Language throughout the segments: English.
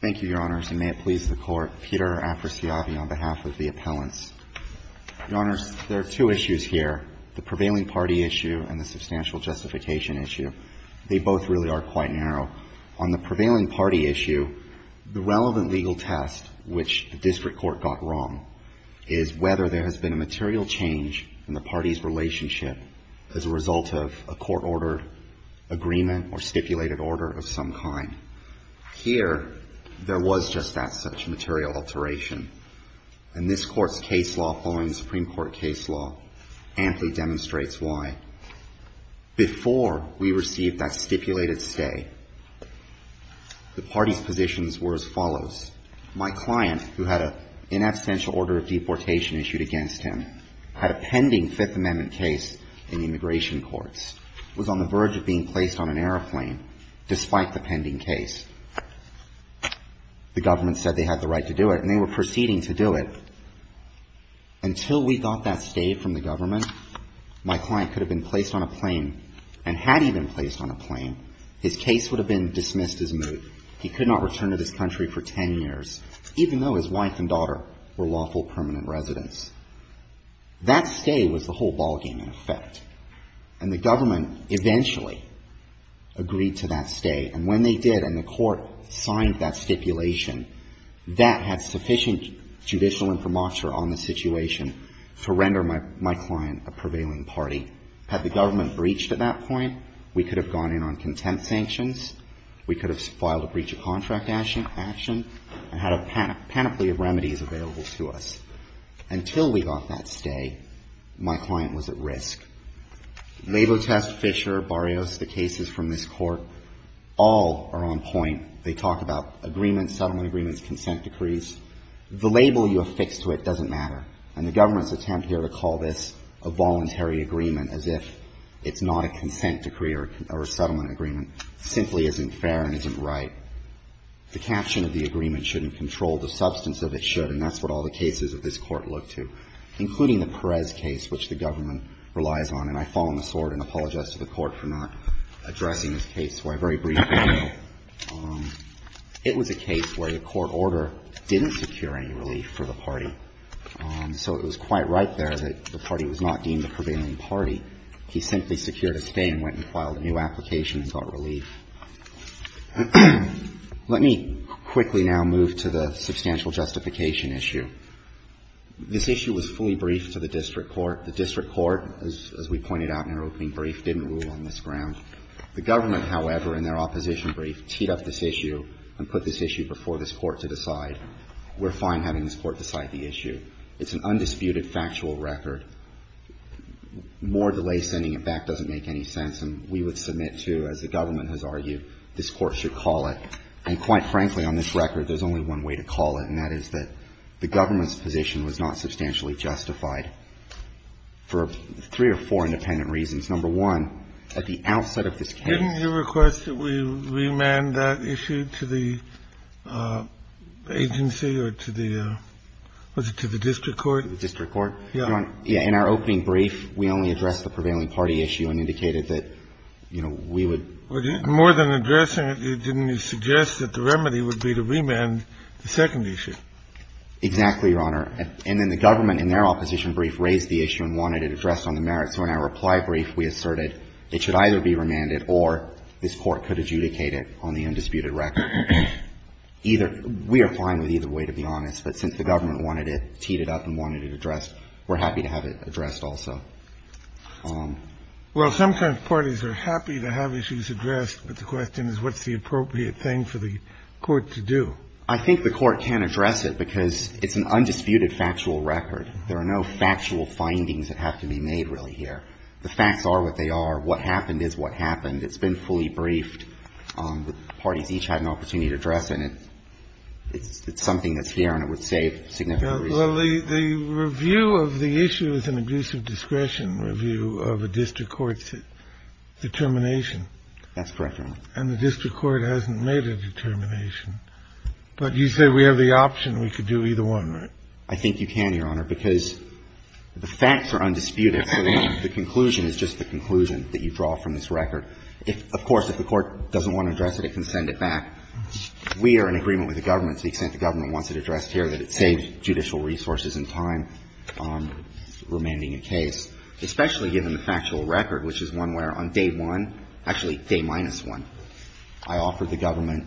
Thank you, Your Honors, and may it please the Court. Peter Afrasiabi on behalf of the appellants. Your Honors, there are two issues here, the prevailing party issue and the substantial justification issue. They both really are quite narrow. On the prevailing party issue, the relevant legal test, which the district court got wrong, is whether there has been a material change in the party's relationship as a result of a court-ordered agreement or whether there was just that such material alteration. And this Court's case law following the Supreme Court case law amply demonstrates why. Before we received that stipulated stay, the party's positions were as follows. My client, who had an inabstantial order of deportation issued against him, had a pending Fifth Amendment case in immigration courts, was on the verge of being placed on an airplane despite the pending case. The government said they had the right to do it, and they were proceeding to do it. Until we got that stay from the government, my client could have been placed on a plane and had he been placed on a plane, his case would have been dismissed as moot. He could not return to this country for ten years, even though his wife and daughter were lawful permanent residents. That stay was a whole ballgame in effect. And the government eventually agreed to that stay. And when they did and the court signed that stipulation, that had sufficient judicial informature on the situation to render my client a prevailing party. Had the government breached at that point, we could have gone in on contempt sanctions, we could have filed a breach of contract action, and had a panoply of remedies available to us. Until we got that stay, my client was at risk. Labotest, Fisher, Barrios, the cases from this Court, all are on point. They talk about agreements, settlement agreements, consent decrees. The label you affix to it doesn't matter. And the government's attempt here to call this a voluntary agreement as if it's not a consent decree or a settlement agreement simply isn't fair and isn't right. The caption of the agreement shouldn't control the substance of it should, and that's what all the cases of this Court look to, including the Perez case, which the government relies on. And I fall on the sword and apologize to the Court for not addressing this case, so I very briefly will. It was a case where the court order didn't secure any relief for the party. So it was quite right there that the party was not deemed a prevailing party. He simply secured a stay and went and filed a new application and got relief. Let me quickly now move to the substantial justification issue. This issue was fully briefed to the district court. The district court, as we pointed out in our opening brief, didn't rule on this ground. The government, however, in their opposition brief, teed up this issue and put this issue before this Court to decide. We're fine having this Court decide the issue. It's an undisputed factual record. More delay in sending it back doesn't make any sense, and we would submit to, as the government has argued, this Court should call it. And quite frankly, on this record, there's only one way to call it, and that is that the government's position was not substantially justified for three or four independent reasons. Number one, at the outset of this case — Didn't you request that we remand that issue to the agency or to the — was it to the district court? Yeah. Yeah. In our opening brief, we only addressed the prevailing party issue and indicated that, you know, we would — More than addressing it, didn't you suggest that the remedy would be to remand the second issue? Exactly, Your Honor. And then the government, in their opposition brief, raised the issue and wanted it addressed on the merits. So in our reply brief, we asserted it should either be remanded or this Court could adjudicate it on the undisputed record. Either — we are fine with either way, to be honest. But since the government wanted it, teed it up and wanted it addressed, we're happy to have it addressed also. Well, sometimes parties are happy to have issues addressed, but the question is what's the appropriate thing for the Court to do. I think the Court can address it because it's an undisputed factual record. There are no factual findings that have to be made really here. The facts are what they are. What happened is what happened. It's been fully briefed. The parties each had an opportunity to address it, and it's something that's here and it would save significant reason. Well, the review of the issue is an abusive discretion review of a district court's determination. That's correct, Your Honor. And the district court hasn't made a determination. But you say we have the option we could do either one, right? I think you can, Your Honor, because the facts are undisputed, so the conclusion is just the conclusion that you draw from this record. Of course, if the Court doesn't want to address it, it can send it back. We are in agreement with the government to the extent the government wants it addressed here that it saves judicial resources and time on remanding a case, especially given the factual record, which is one where on day one, actually day minus one, I offered the government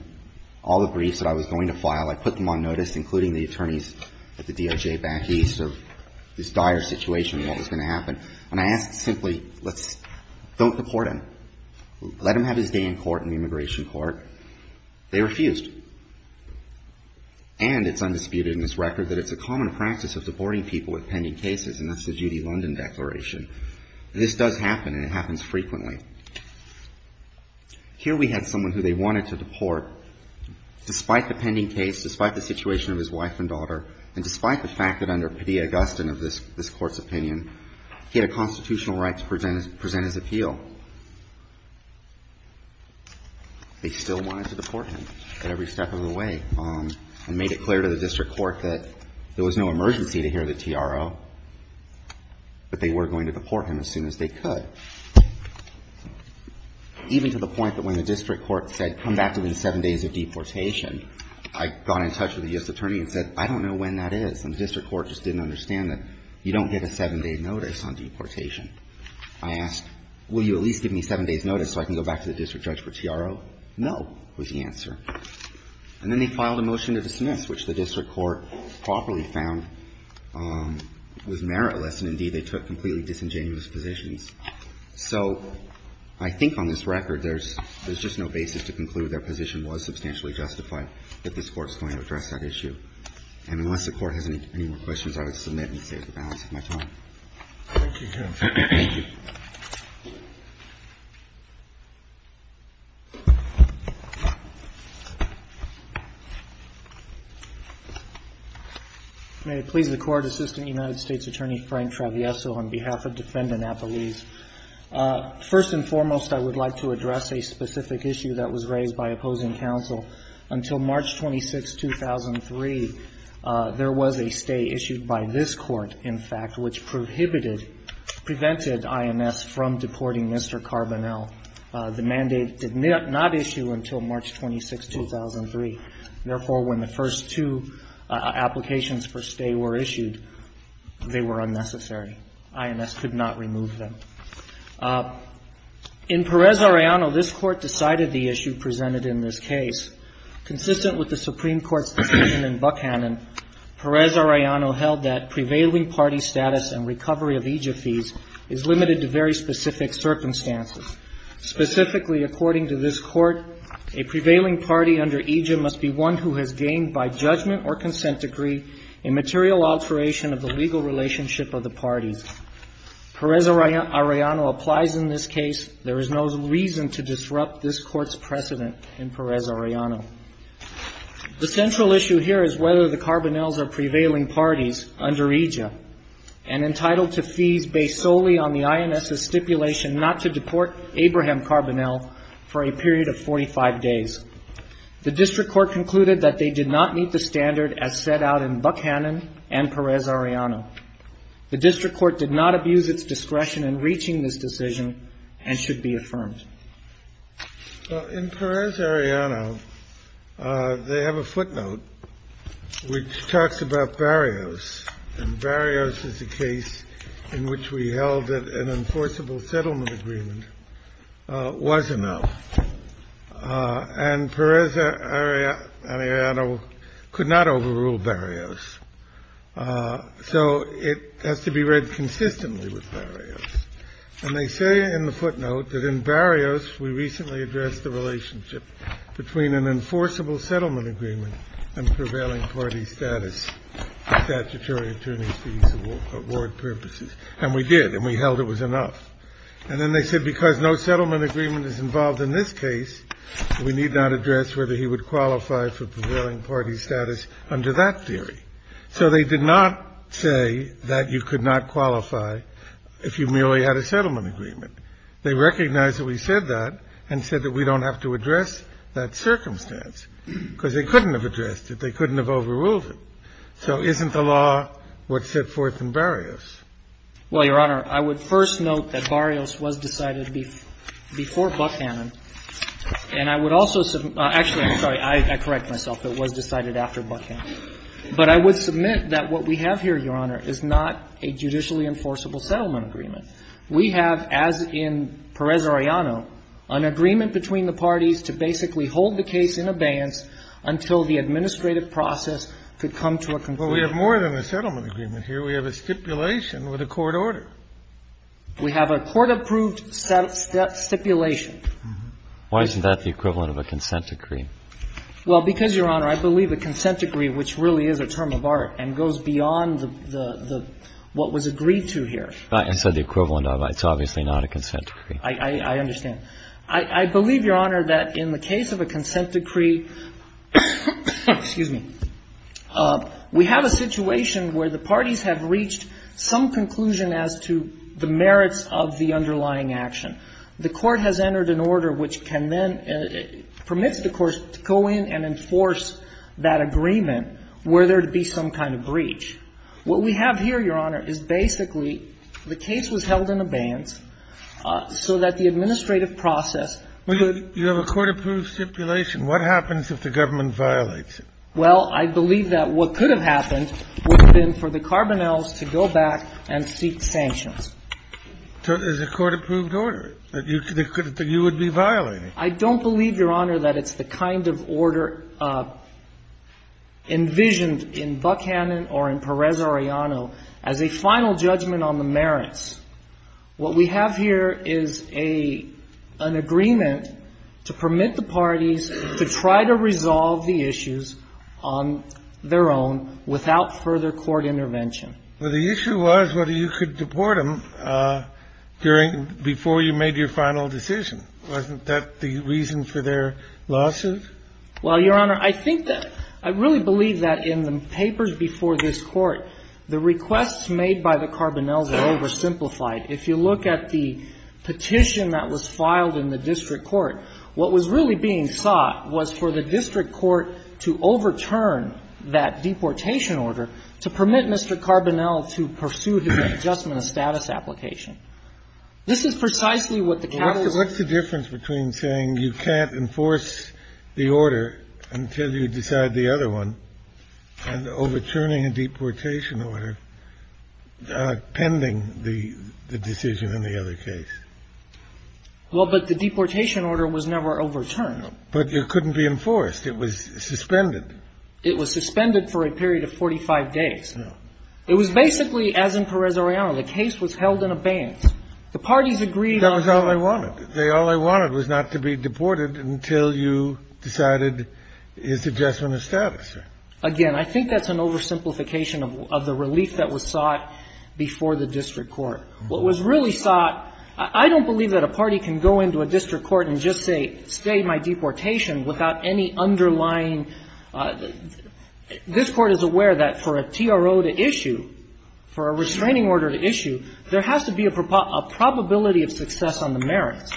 all the briefs that I was going to file. I put them on notice, including the attorneys at the DOJ back east of this dire situation what was going to happen, and I asked simply, don't deport him. Let him have his day in court in the immigration court. They refused. And it's undisputed in this record that it's a common practice of deporting people with pending cases, and that's the Judy London Declaration. This does happen and it happens frequently. Here we had someone who they wanted to deport despite the pending case, despite the situation of his wife and daughter, and despite the fact that under Padilla-Augustine of this court's opinion, he had a constitutional right to present his appeal. They still wanted to deport him at every step of the way, and made it clear to the district court that there was no emergency to hear the TRO, but they were going to deport him as soon as they could, even to the point that when the district court said come back within seven days of deportation, I got in touch with the U.S. court and said, I understand that you don't get a seven-day notice on deportation. I asked, will you at least give me seven days' notice so I can go back to the district judge for TRO? No, was the answer. And then they filed a motion to dismiss, which the district court properly found was meritless, and indeed, they took completely disingenuous positions. So I think on this record, there's just no basis to conclude that their position was substantially justified, that this Court's going to address that issue. And unless the Court has any more questions, I would submit and save the balance of my time. Thank you, Your Honor. Thank you. May it please the Court, Assistant United States Attorney Frank Travieso, on behalf of Defendant Appellees. First and foremost, I would like to address a specific issue that was raised by opposing counsel. Until March 26, 2003, there was a stay issued by this Court, in fact, which prohibited, prevented INS from deporting Mr. Carbonell. The mandate did not issue until March 26, 2003. Therefore, when the first two applications for stay were issued, they were unnecessary. INS did not issue them. In Perez-Arellano, this Court decided the issue presented in this case. Consistent with the Supreme Court's decision in Buckhannon, Perez-Arellano held that prevailing party status and recovery of EJIA fees is limited to very specific circumstances. Specifically, according to this Court, a prevailing party under EJIA must be one who has gained by judgment or consent degree a material alteration of the legal relationship of the parties. Perez-Arellano applies in this case. There is no reason to disrupt this Court's precedent in Perez-Arellano. The central issue here is whether the Carbonells are prevailing parties under EJIA and entitled to fees based solely on the INS's stipulation not to deport Abraham Carbonell for a period of 45 days. The District Court concluded that they did not meet the standard as set out in Buckhannon and Perez-Arellano. The District Court did not abuse its discretion in reaching this decision and should be affirmed. In Perez-Arellano, they have a footnote which talks about barriers, and barriers is a case in which we held that an enforceable settlement agreement was enough. And Perez-Arellano could not overrule barriers. So it has to be read consistently with barriers. And they say in the footnote that in barriers we recently addressed the relationship between an enforceable settlement agreement and prevailing party status for statutory attorney's fees award purposes. And we did, and we held it was necessary. And in this case, we need not address whether he would qualify for prevailing party status under that theory. So they did not say that you could not qualify if you merely had a settlement agreement. They recognized that we said that and said that we don't have to address that circumstance, because they couldn't have addressed it. They couldn't have overruled it. So isn't the law what's set forth in barriers? Well, Your Honor, I would first note that barriers was decided before Buckhannon. And I would also submit – actually, I'm sorry. I correct myself. It was decided after Buckhannon. But I would submit that what we have here, Your Honor, is not a judicially enforceable settlement agreement. We have, as in Perez-Arellano, an agreement between the parties to basically hold the case in abeyance until the administrative process could come to a conclusion. Well, we have more than a settlement agreement here. We have a stipulation with a court order. We have a court-approved stipulation. Why isn't that the equivalent of a consent decree? Well, because, Your Honor, I believe a consent decree, which really is a term of art and goes beyond the – what was agreed to here. I said the equivalent of. It's obviously not a consent decree. I understand. I believe, Your Honor, that in the case of a consent decree – excuse me – we have a situation where the parties have reached some conclusion as to the merits of the underlying action. The court has entered an order which can then – permits the court to go in and enforce that agreement where there would be some kind of breach. What we have here, Your Honor, is basically the case was held in abeyance so that the administrative process – You have a court-approved stipulation. What happens if the government violates it? Well, I believe that what could have happened would have been for the Carbonells to go back and seek sanctions. So there's a court-approved order that you would be violating. I don't believe, Your Honor, that it's the kind of order envisioned in Buckhannon or in Perez-Arellano as a final judgment on the merits. What we have here is a – an agreement to permit the parties to try to resolve the issues on their own without further court intervention. Well, the issue was whether you could deport them during – before you made your final decision. Wasn't that the reason for their losses? Well, Your Honor, I think that – I really believe that in the papers before this Court, the requests made by the Carbonells are oversimplified. If you look at the petition that was filed in the district court, what was really being sought was for the district court to overturn that deportation order to permit Mr. Carbonell to pursue his adjustment of status application. This is precisely what the capital – What's the difference between saying you can't enforce the order until you decide the other one and overturning a deportation order pending the decision on the other case? Well, but the deportation order was never overturned. But it couldn't be enforced. It was suspended. It was suspended for a period of 45 days. No. It was basically, as in Perez-Arellano, the case was held in abeyance. The parties agreed on – They all they wanted was not to be deported until you decided his adjustment of status, sir. Again, I think that's an oversimplification of the relief that was sought before the district court. What was really sought – I don't believe that a party can go into a district court and just say stay my deportation without any underlying – this Court is aware that for a TRO to issue, for a restraining order to issue, there has to be a probability of success on the merits.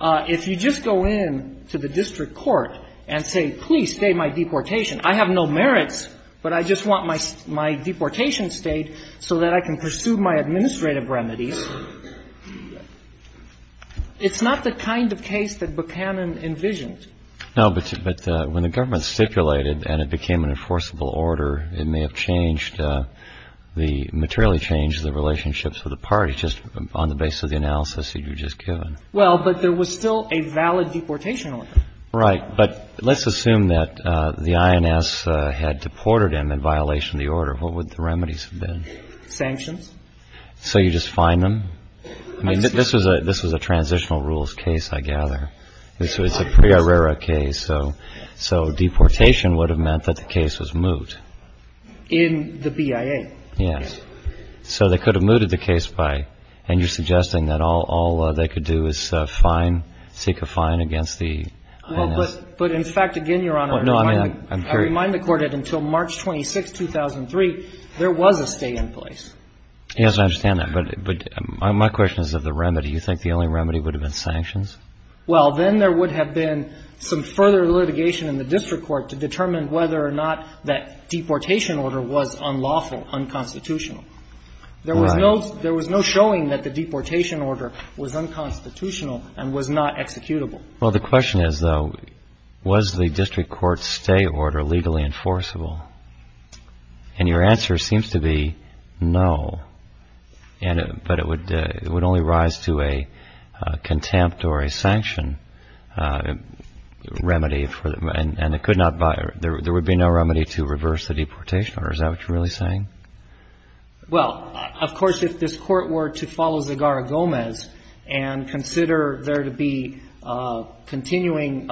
If you just go in to the district court and say, please stay my deportation, I have no merits, but I just want my deportation stayed so that I can pursue my administrative remedies, it's not the kind of case that Buchanan envisioned. No. But when the government stipulated and it became an enforceable order, it may have changed the – materially changed the relationships of the parties just on the basis of the analysis you've just given. Well, but there was still a valid deportation order. Right. But let's assume that the INS had deported him in violation of the order. What would the remedies have been? Sanctions. So you just fine him? I mean, this was a transitional rules case, I gather. This was a pre-arrera case. So deportation would have meant that the case was moot. In the BIA. Yes. So they could have mooted the case by – and you're suggesting that all they could do is fine, seek a fine against the INS? Well, but in fact, again, Your Honor, I remind the Court that until March 26, 2003, there was a stay in place. Yes, I understand that. But my question is of the remedy. You think the only remedy would have been sanctions? Well, then there would have been some further litigation in the district court to determine whether or not that deportation order was unlawful, unconstitutional. Right. There was no showing that the deportation order was unconstitutional and was not executable. Well, the question is, though, was the district court stay order legally enforceable? And your answer seems to be no, but it would only rise to a contempt or a sanction remedy, and it could not – there would be no remedy to reverse the deportation order. Is that what you're really saying? Well, of course, if this Court were to follow Zegarra-Gomez and consider there to be continuing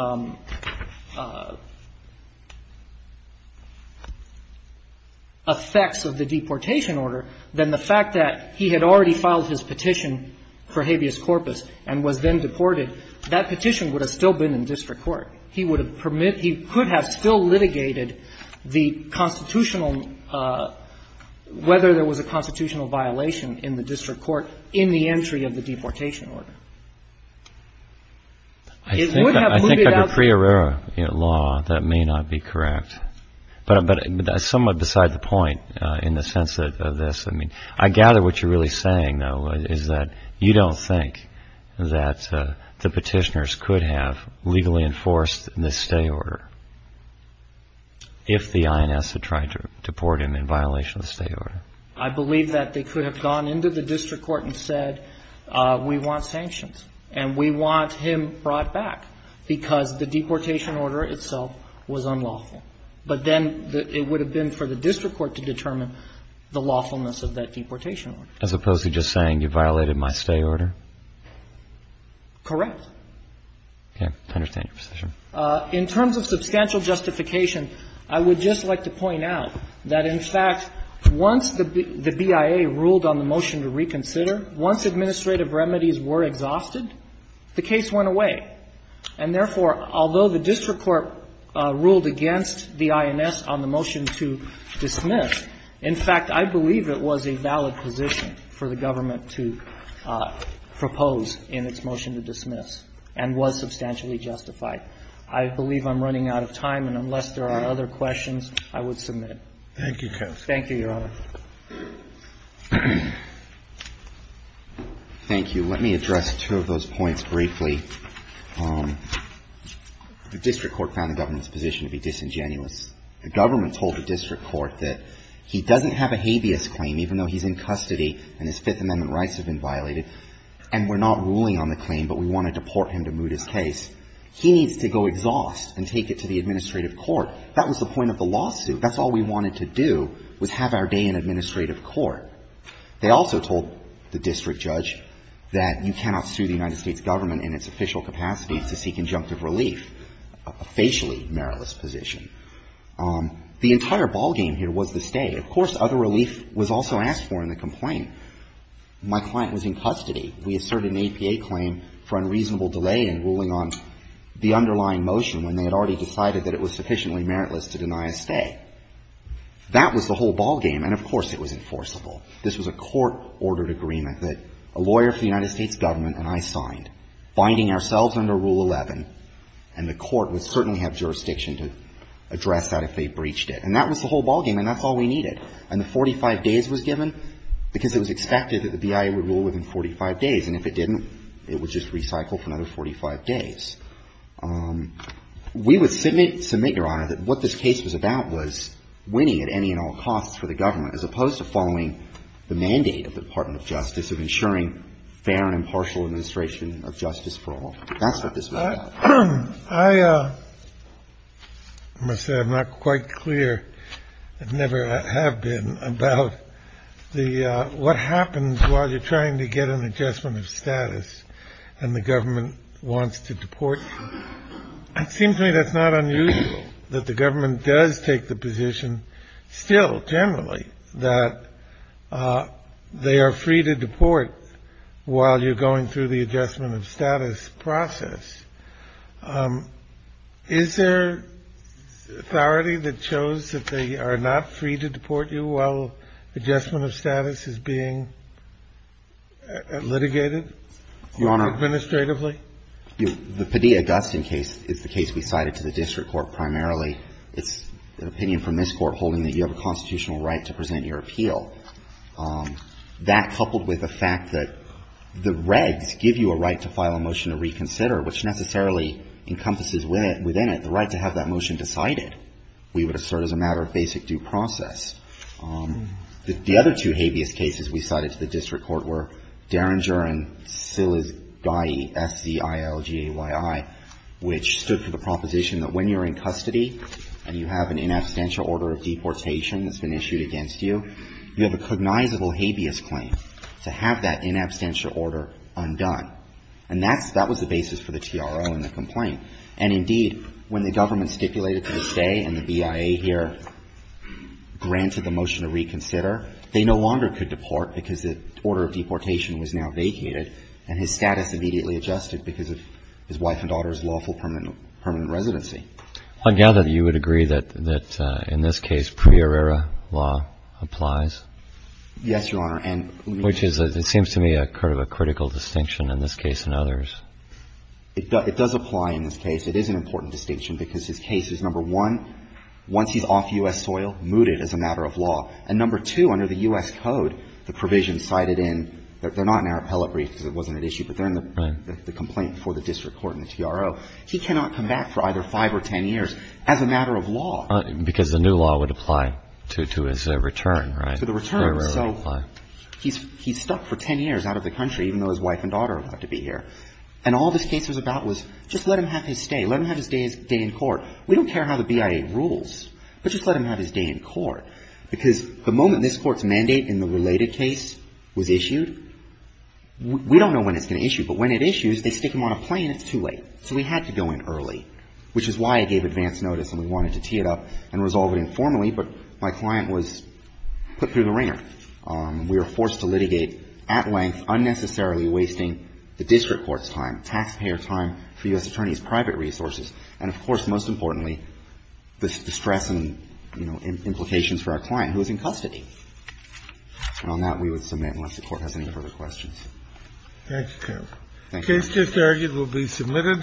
effects of the deportation order, then the fact that he had already filed his He would have permitted – he could have still litigated the constitutional – whether there was a constitutional violation in the district court in the entry of the deportation order. It would have put it out there. I think under Priorero law, that may not be correct, but somewhat beside the point in the sense of this. I mean, I gather what you're really saying, though, is that you don't think that the in this stay order if the INS had tried to deport him in violation of the stay order? I believe that they could have gone into the district court and said, we want sanctions and we want him brought back because the deportation order itself was unlawful. But then it would have been for the district court to determine the lawfulness of that deportation order. As opposed to just saying, you violated my stay order? Correct. In terms of substantial justification, I would just like to point out that, in fact, once the BIA ruled on the motion to reconsider, once administrative remedies were exhausted, the case went away. And therefore, although the district court ruled against the INS on the motion to dismiss, in fact, I believe it was a valid position for the government to propose in its motion to dismiss. And it was substantially justified. I believe I'm running out of time. And unless there are other questions, I would submit. Thank you, counsel. Thank you, Your Honor. Thank you. Let me address two of those points briefly. The district court found the government's position to be disingenuous. The government told the district court that he doesn't have a habeas claim, even though he's in custody and his Fifth Amendment rights have been violated, and we're not ruling on the claim, but we want to deport him to moot his case. He needs to go exhaust and take it to the administrative court. That was the point of the lawsuit. That's all we wanted to do, was have our day in administrative court. They also told the district judge that you cannot sue the United States government in its official capacity to seek injunctive relief, a facially meritless position. The entire ballgame here was the stay. Of course, other relief was also asked for in the complaint. My client was in custody. We asserted an APA claim for unreasonable delay in ruling on the underlying motion when they had already decided that it was sufficiently meritless to deny a stay. That was the whole ballgame, and of course it was enforceable. This was a court-ordered agreement that a lawyer for the United States government and I signed, binding ourselves under Rule 11, and the court would certainly have jurisdiction to address that if they breached it. And that was the whole ballgame, and that's all we needed. And the 45 days was given because it was expected that the BIA would rule within 45 days, and if it didn't, it would just recycle for another 45 days. We would submit, Your Honor, that what this case was about was winning at any and all costs for the government, as opposed to following the mandate of the Department of Justice of ensuring fair and impartial administration of justice for all. That's what this was about. I must say I'm not quite clear, and never have been, about what happens while you're trying to get an adjustment of status and the government wants to deport you. It seems to me that's not unusual that the government does take the position still, generally, that they are free to deport while you're going through the adjustment of status process. Is there authority that shows that they are not free to deport you while adjustment of status is being litigated? Administratively? The Padilla-Augustine case is the case we cited to the district court primarily. It's an opinion from this Court holding that you have a constitutional right to present your appeal. That, coupled with the fact that the regs give you a right to file a motion to reconsider, which necessarily encompasses within it the right to have that motion decided, we would assert as a matter of basic due process. The other two habeas cases we cited to the district court were Derringer and Sziligayi, S-Z-I-L-G-A-Y-I, which stood for the proposition that when you're in custody and you have an inabstantial order of deportation that's been issued against you, you have a cognizable habeas claim to have that inabstantial order undone. And that was the basis for the TRO and the complaint. And, indeed, when the government stipulated to this day and the BIA here granted the motion to reconsider, they no longer could deport because the order of deportation was now vacated and his status immediately adjusted because of his wife and daughter's lawful permanent residency. I gather that you would agree that in this case prior era law applies. Yes, Your Honor. And which is, it seems to me, a critical distinction in this case and others. It does apply in this case. It is an important distinction because his case is, number one, once he's off U.S. soil, mooted as a matter of law. And, number two, under the U.S. Code, the provision cited in, they're not in our appellate brief because it wasn't at issue, but they're in the complaint before the district court and the TRO. So he cannot come back for either five or ten years as a matter of law. Because the new law would apply to his return, right? To the return. So he's stuck for ten years out of the country, even though his wife and daughter are allowed to be here. And all this case was about was just let him have his stay. Let him have his day in court. We don't care how the BIA rules, but just let him have his day in court because the moment this Court's mandate in the related case was issued, we don't know when it's going to issue. But when it issues, they stick him on a plane. And it's too late. So we had to go in early, which is why I gave advance notice and we wanted to tee it up and resolve it informally, but my client was put through the wringer. We were forced to litigate at length, unnecessarily wasting the district court's time, taxpayer time for U.S. attorneys' private resources, and, of course, most importantly, the stress and, you know, implications for our client who was in custody. And on that, we would submit unless the Court has any further questions. Thank you, counsel. Thank you. The case just argued will be submitted.